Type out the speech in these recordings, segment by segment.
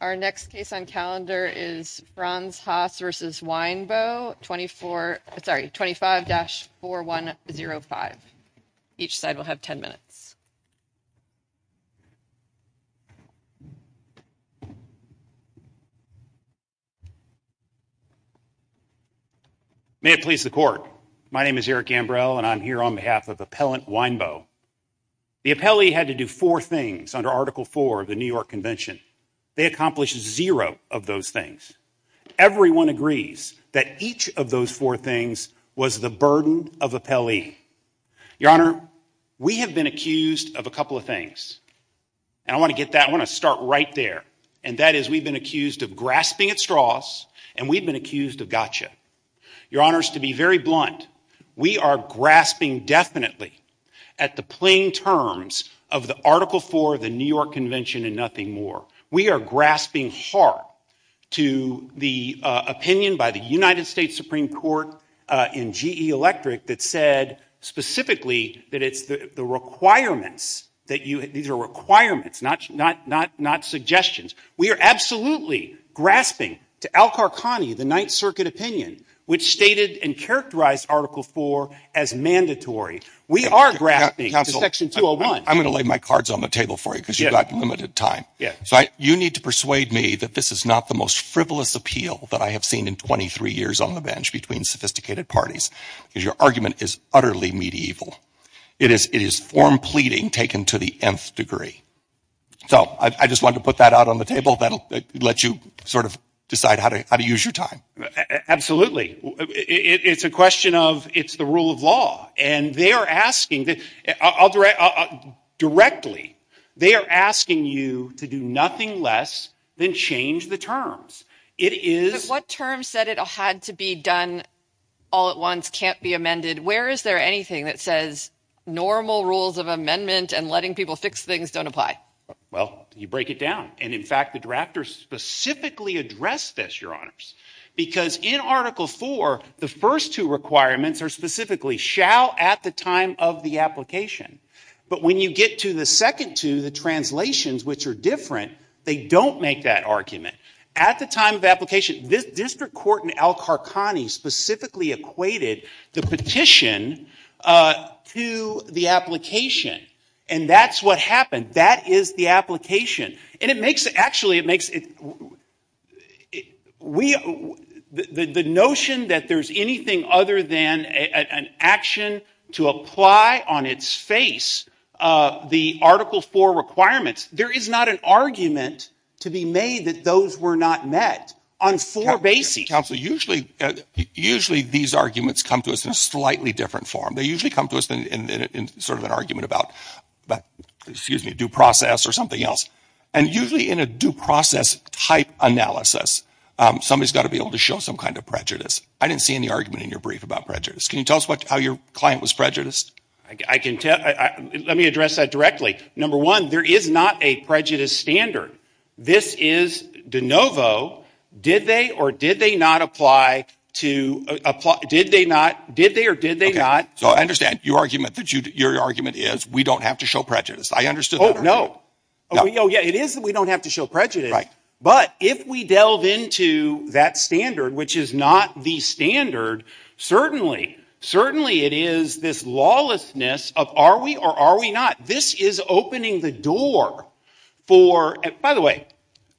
Our next case on calendar is Franz Haas v. Winebow, 25-4105. Each side will have 10 minutes. May it please the Court. My name is Eric Ambrell, and I'm here on behalf of Appellant Winebow. The appellee had to do four things under Article 4 of the New York Convention. They accomplished zero of those things. Everyone agrees that each of those four things was the burden of appellee. Your Honor, we have been accused of a couple of things, and I want to get that. I want to start right there, and that is we've been accused of grasping at straws, and we've been accused of gotcha. Your Honor, to be very blunt, we are grasping definitely at the plain terms of the Article 4 of the New York Convention and nothing more. We are grasping hard to the opinion by the United States Supreme Court in G.E. Electric that said specifically that it's the requirements, that these are requirements, not suggestions. We are absolutely grasping to Al Qarqani, the Ninth Circuit opinion, which stated and characterized Article 4 as mandatory. We are grasping to Section 201. I'm going to lay my cards on the table for you because you've got limited time. You need to persuade me that this is not the most frivolous appeal that I have seen in 23 years on the bench between sophisticated parties, because your argument is utterly medieval. It is form pleading taken to the nth degree. So I just wanted to put that out on the table. That will let you sort of decide how to use your time. It's a question of it's the rule of law, and they are asking, directly, they are asking you to do nothing less than change the terms. What terms said it had to be done all at once, can't be amended? Where is there anything that says normal rules of amendment and letting people fix things don't apply? Well, you break it down. And, in fact, the drafters specifically addressed this, Your Honors, because in Article 4, the first two requirements are specifically shall at the time of the application. But when you get to the second two, the translations, which are different, they don't make that argument. At the time of application, the district court in Al-Qarqani specifically equated the petition to the application. And that's what happened. That is the application. And it makes it, actually, it makes it, the notion that there is anything other than an action to apply on its face the Article 4 requirements, there is not an argument to be made that those were not met on four bases. Counsel, usually these arguments come to us in a slightly different form. They usually come to us in sort of an argument about, excuse me, due process or something else. And usually in a due process type analysis, somebody's got to be able to show some kind of prejudice. I didn't see any argument in your brief about prejudice. Can you tell us how your client was prejudiced? I can tell. Let me address that directly. Number one, there is not a prejudice standard. This is de novo. Did they or did they not apply to, did they not, did they or did they not. So I understand. Your argument is we don't have to show prejudice. I understood that. It is that we don't have to show prejudice. But if we delve into that standard, which is not the standard, certainly, certainly it is this lawlessness of are we or are we not. This is opening the door for, by the way,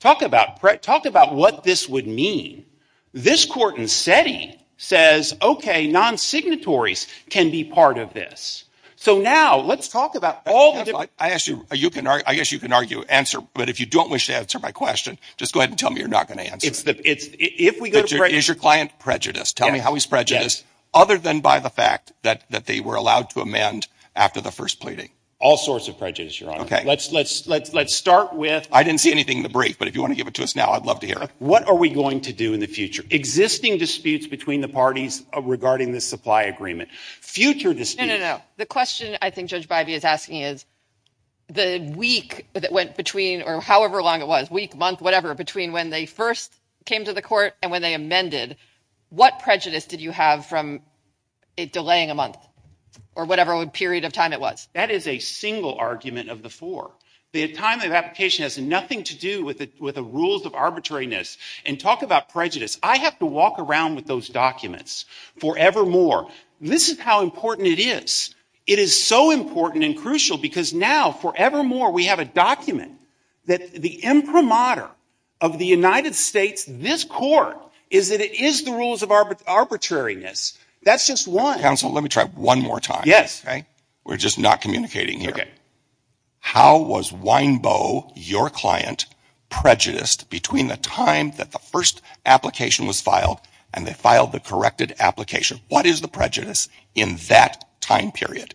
talk about what this would mean. This court in SETI says, okay, non-signatories can be part of this. So now let's talk about all the different. I guess you can argue, answer, but if you don't wish to answer my question, just go ahead and tell me you're not going to answer it. Is your client prejudiced? Tell me how he's prejudiced other than by the fact that they were allowed to amend after the first pleading. All sorts of prejudice. You're on. Let's let's let's let's start with. I didn't see anything in the brief, but if you want to give it to us now, I'd love to hear it. What are we going to do in the future? Existing disputes between the parties regarding the supply agreement. Future dispute. No, no, no. The question I think Judge Biby is asking is the week that went between or however long it was week, month, whatever, between when they first came to the court and when they amended. What prejudice did you have from it delaying a month or whatever period of time it was? That is a single argument of the four. The time of application has nothing to do with it, with the rules of arbitrariness and talk about prejudice. I have to walk around with those documents forevermore. This is how important it is. It is so important and crucial because now forevermore we have a document that the imprimatur of the United States, this court, is that it is the rules of arbitrariness. That's just one. Counsel, let me try one more time. Yes. Okay. We're just not communicating here. How was Weinbow, your client, prejudiced between the time that the first application was filed and they filed the corrected application? What is the prejudice in that time period?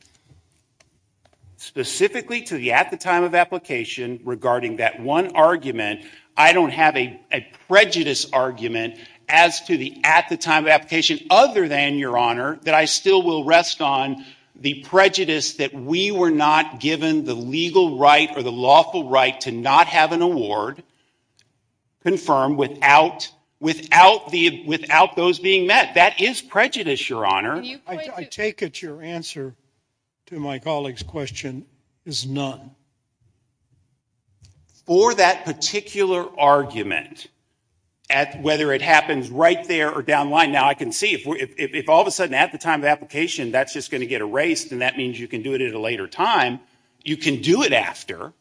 Specifically to the at the time of application regarding that one argument, I don't have a prejudice argument as to the at the time of application other than, Your Honor, that I still will rest on the prejudice that we were not given the legal right or the lawful right to not have an award confirmed without those being met. That is prejudice, Your Honor. I take it your answer to my colleague's question is none. For that particular argument, whether it happens right there or down the line, now I can see if all of a sudden at the time of application that's just going to get erased and that means you can do it at a later time, you can do it after.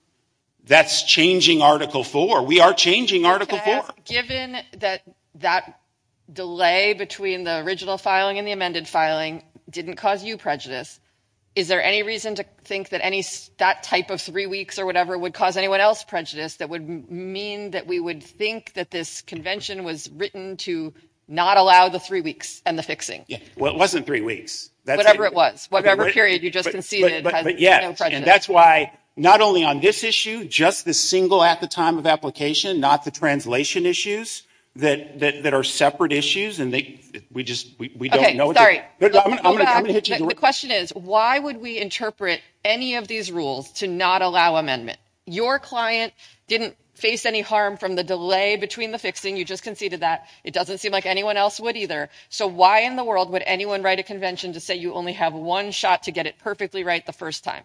That's changing Article IV. We are changing Article IV. Given that that delay between the original filing and the amended filing didn't cause you prejudice, is there any reason to think that that type of three weeks or whatever would cause anyone else prejudice that would mean that we would think that this convention was written to not allow the three weeks and the fixing? Well, it wasn't three weeks. Whatever it was. Whatever period you just conceded has no prejudice. That's why not only on this issue, just the single at the time of application, not the translation issues that are separate issues and we just don't know. I'm going to hit you. The question is why would we interpret any of these rules to not allow amendment? Your client didn't face any harm from the delay between the fixing. You just conceded that. It doesn't seem like anyone else would either. So why in the world would anyone write a convention to say you only have one shot to get it perfectly right the first time?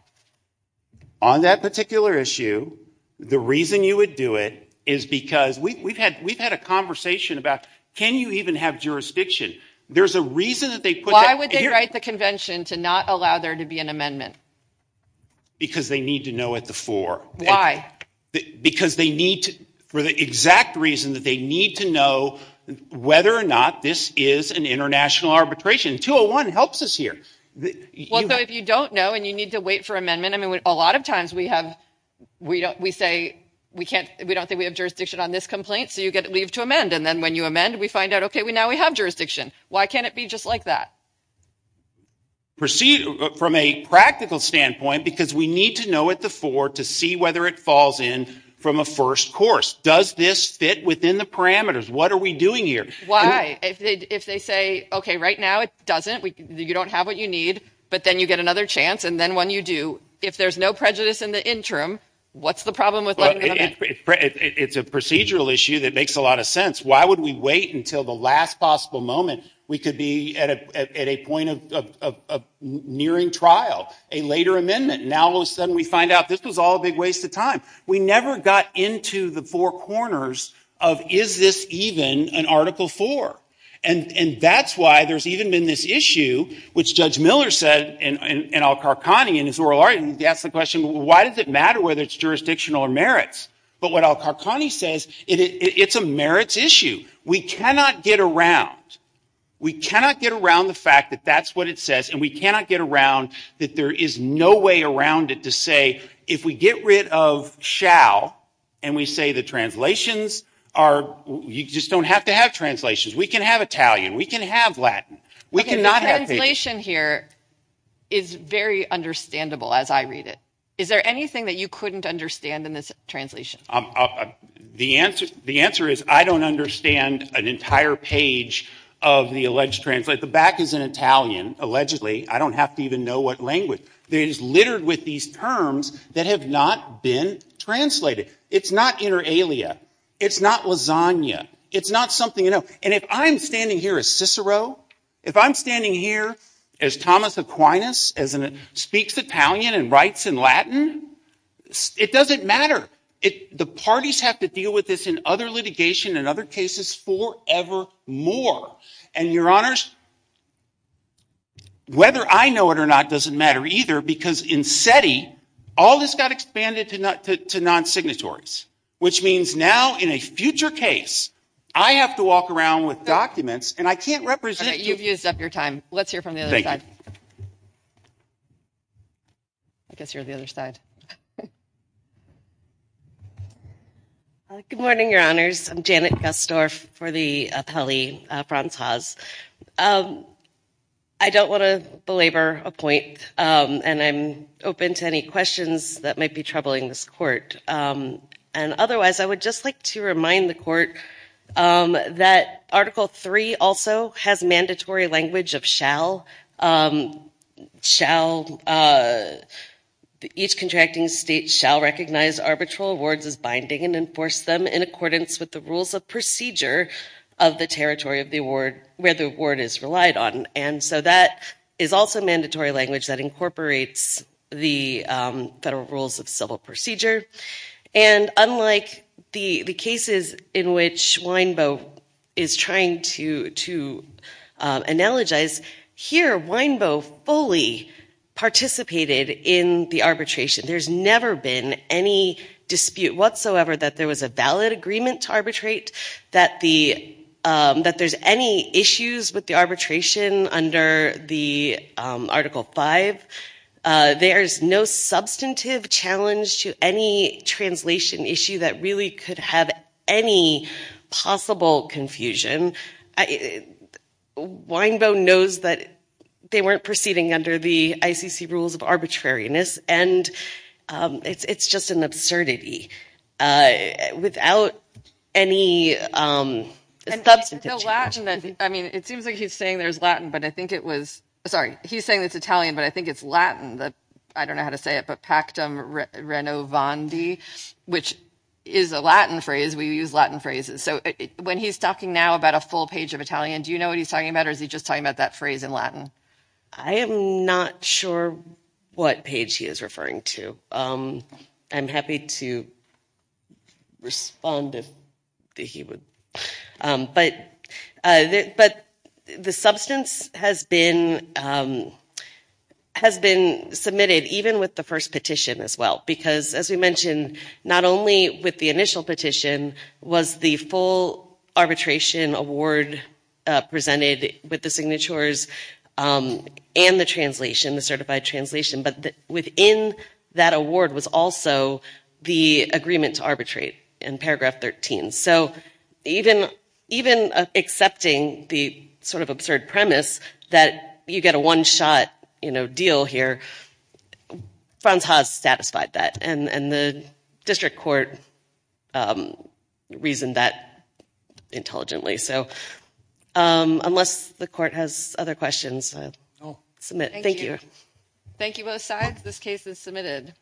On that particular issue, the reason you would do it is because we've had a conversation about can you even have jurisdiction? Why would they write the convention to not allow there to be an amendment? Because they need to know at the fore. Why? Because they need to, for the exact reason that they need to know whether or not this is an international arbitration. 201 helps us here. Well, so if you don't know and you need to wait for amendment, I mean, a lot of times we say we don't think we have jurisdiction on this complaint, so you leave to amend. And then when you amend, we find out, okay, now we have jurisdiction. Why can't it be just like that? From a practical standpoint, because we need to know at the fore to see whether it falls in from a first course. Does this fit within the parameters? What are we doing here? Why? If they say, okay, right now it doesn't, you don't have what you need, but then you get another chance, and then when you do, if there's no prejudice in the interim, what's the problem with letting them amend? It's a procedural issue that makes a lot of sense. Why would we wait until the last possible moment? We could be at a point of nearing trial, a later amendment, and now all of a sudden we find out this was all a big waste of time. We never got into the four corners of, is this even an Article IV? And that's why there's even been this issue, which Judge Miller said, and Al-Qarqani in his oral argument, he asked the question, why does it matter whether it's jurisdictional or merits? But what Al-Qarqani says, it's a merits issue. We cannot get around, we cannot get around the fact that that's what it says, and we cannot get around that there is no way around it to say, if we get rid of shall, and we say the translations are, you just don't have to have translations, we can have Italian, we can have Latin. The translation here is very understandable as I read it. Is there anything that you couldn't understand in this translation? The answer is I don't understand an entire page of the alleged translation. The back is in Italian, allegedly. I don't have to even know what language. It is littered with these terms that have not been translated. It's not inter alia. It's not lasagna. It's not something, and if I'm standing here as Cicero, if I'm standing here as Thomas Aquinas, speaks Italian and writes in Latin, it doesn't matter. The parties have to deal with this in other litigation and other cases forever more. And your honors, whether I know it or not doesn't matter either, because in SETI, all this got expanded to non-signatories, which means now in a future case, I have to walk around with documents, and I can't represent. You've used up your time. Let's hear from the other side. I guess you're the other side. Good morning, your honors. I'm Janet Gusdorf for the appellee, Franz Haas. I don't want to belabor a point, and I'm open to any questions that might be troubling this court. And otherwise, I would just like to remind the court that Article III also has mandatory language of shall. Each contracting state shall recognize arbitral awards as binding and enforce them in accordance with the rules of procedure of the territory of the award, where the award is relied on. And so that is also mandatory language that incorporates the federal rules of civil procedure. And unlike the cases in which Weinbo is trying to analogize, here Weinbo fully participated in the arbitration. There's never been any dispute whatsoever that there was a valid agreement to arbitrate, that there's any issues with the arbitration under the Article V. There's no substantive challenge to any translation issue that really could have any possible confusion. Weinbo knows that they weren't proceeding under the ICC rules of arbitrariness, and it's just an absurdity. Without any substantive challenge. And I mean, it seems like he's saying there's Latin, but I think it was, sorry, he's saying it's Italian, but I think it's Latin. I don't know how to say it, but pactum renovandi, which is a Latin phrase. We use Latin phrases. So when he's talking now about a full page of Italian, do you know what he's talking about? Or is he just talking about that phrase in Latin? I am not sure what page he is referring to. I'm happy to respond if he would. But the substance has been submitted even with the first petition as well. Because as we mentioned, not only with the initial petition was the full arbitration award presented with the signatures and the translation, the certified translation, but within that award was also the agreement to arbitrate in paragraph 13. So even accepting the sort of absurd premise that you get a one-shot deal here, Franz Haas satisfied that, and the district court reasoned that intelligently. So unless the court has other questions, I'll submit. Thank you. Thank you both sides. This case is submitted.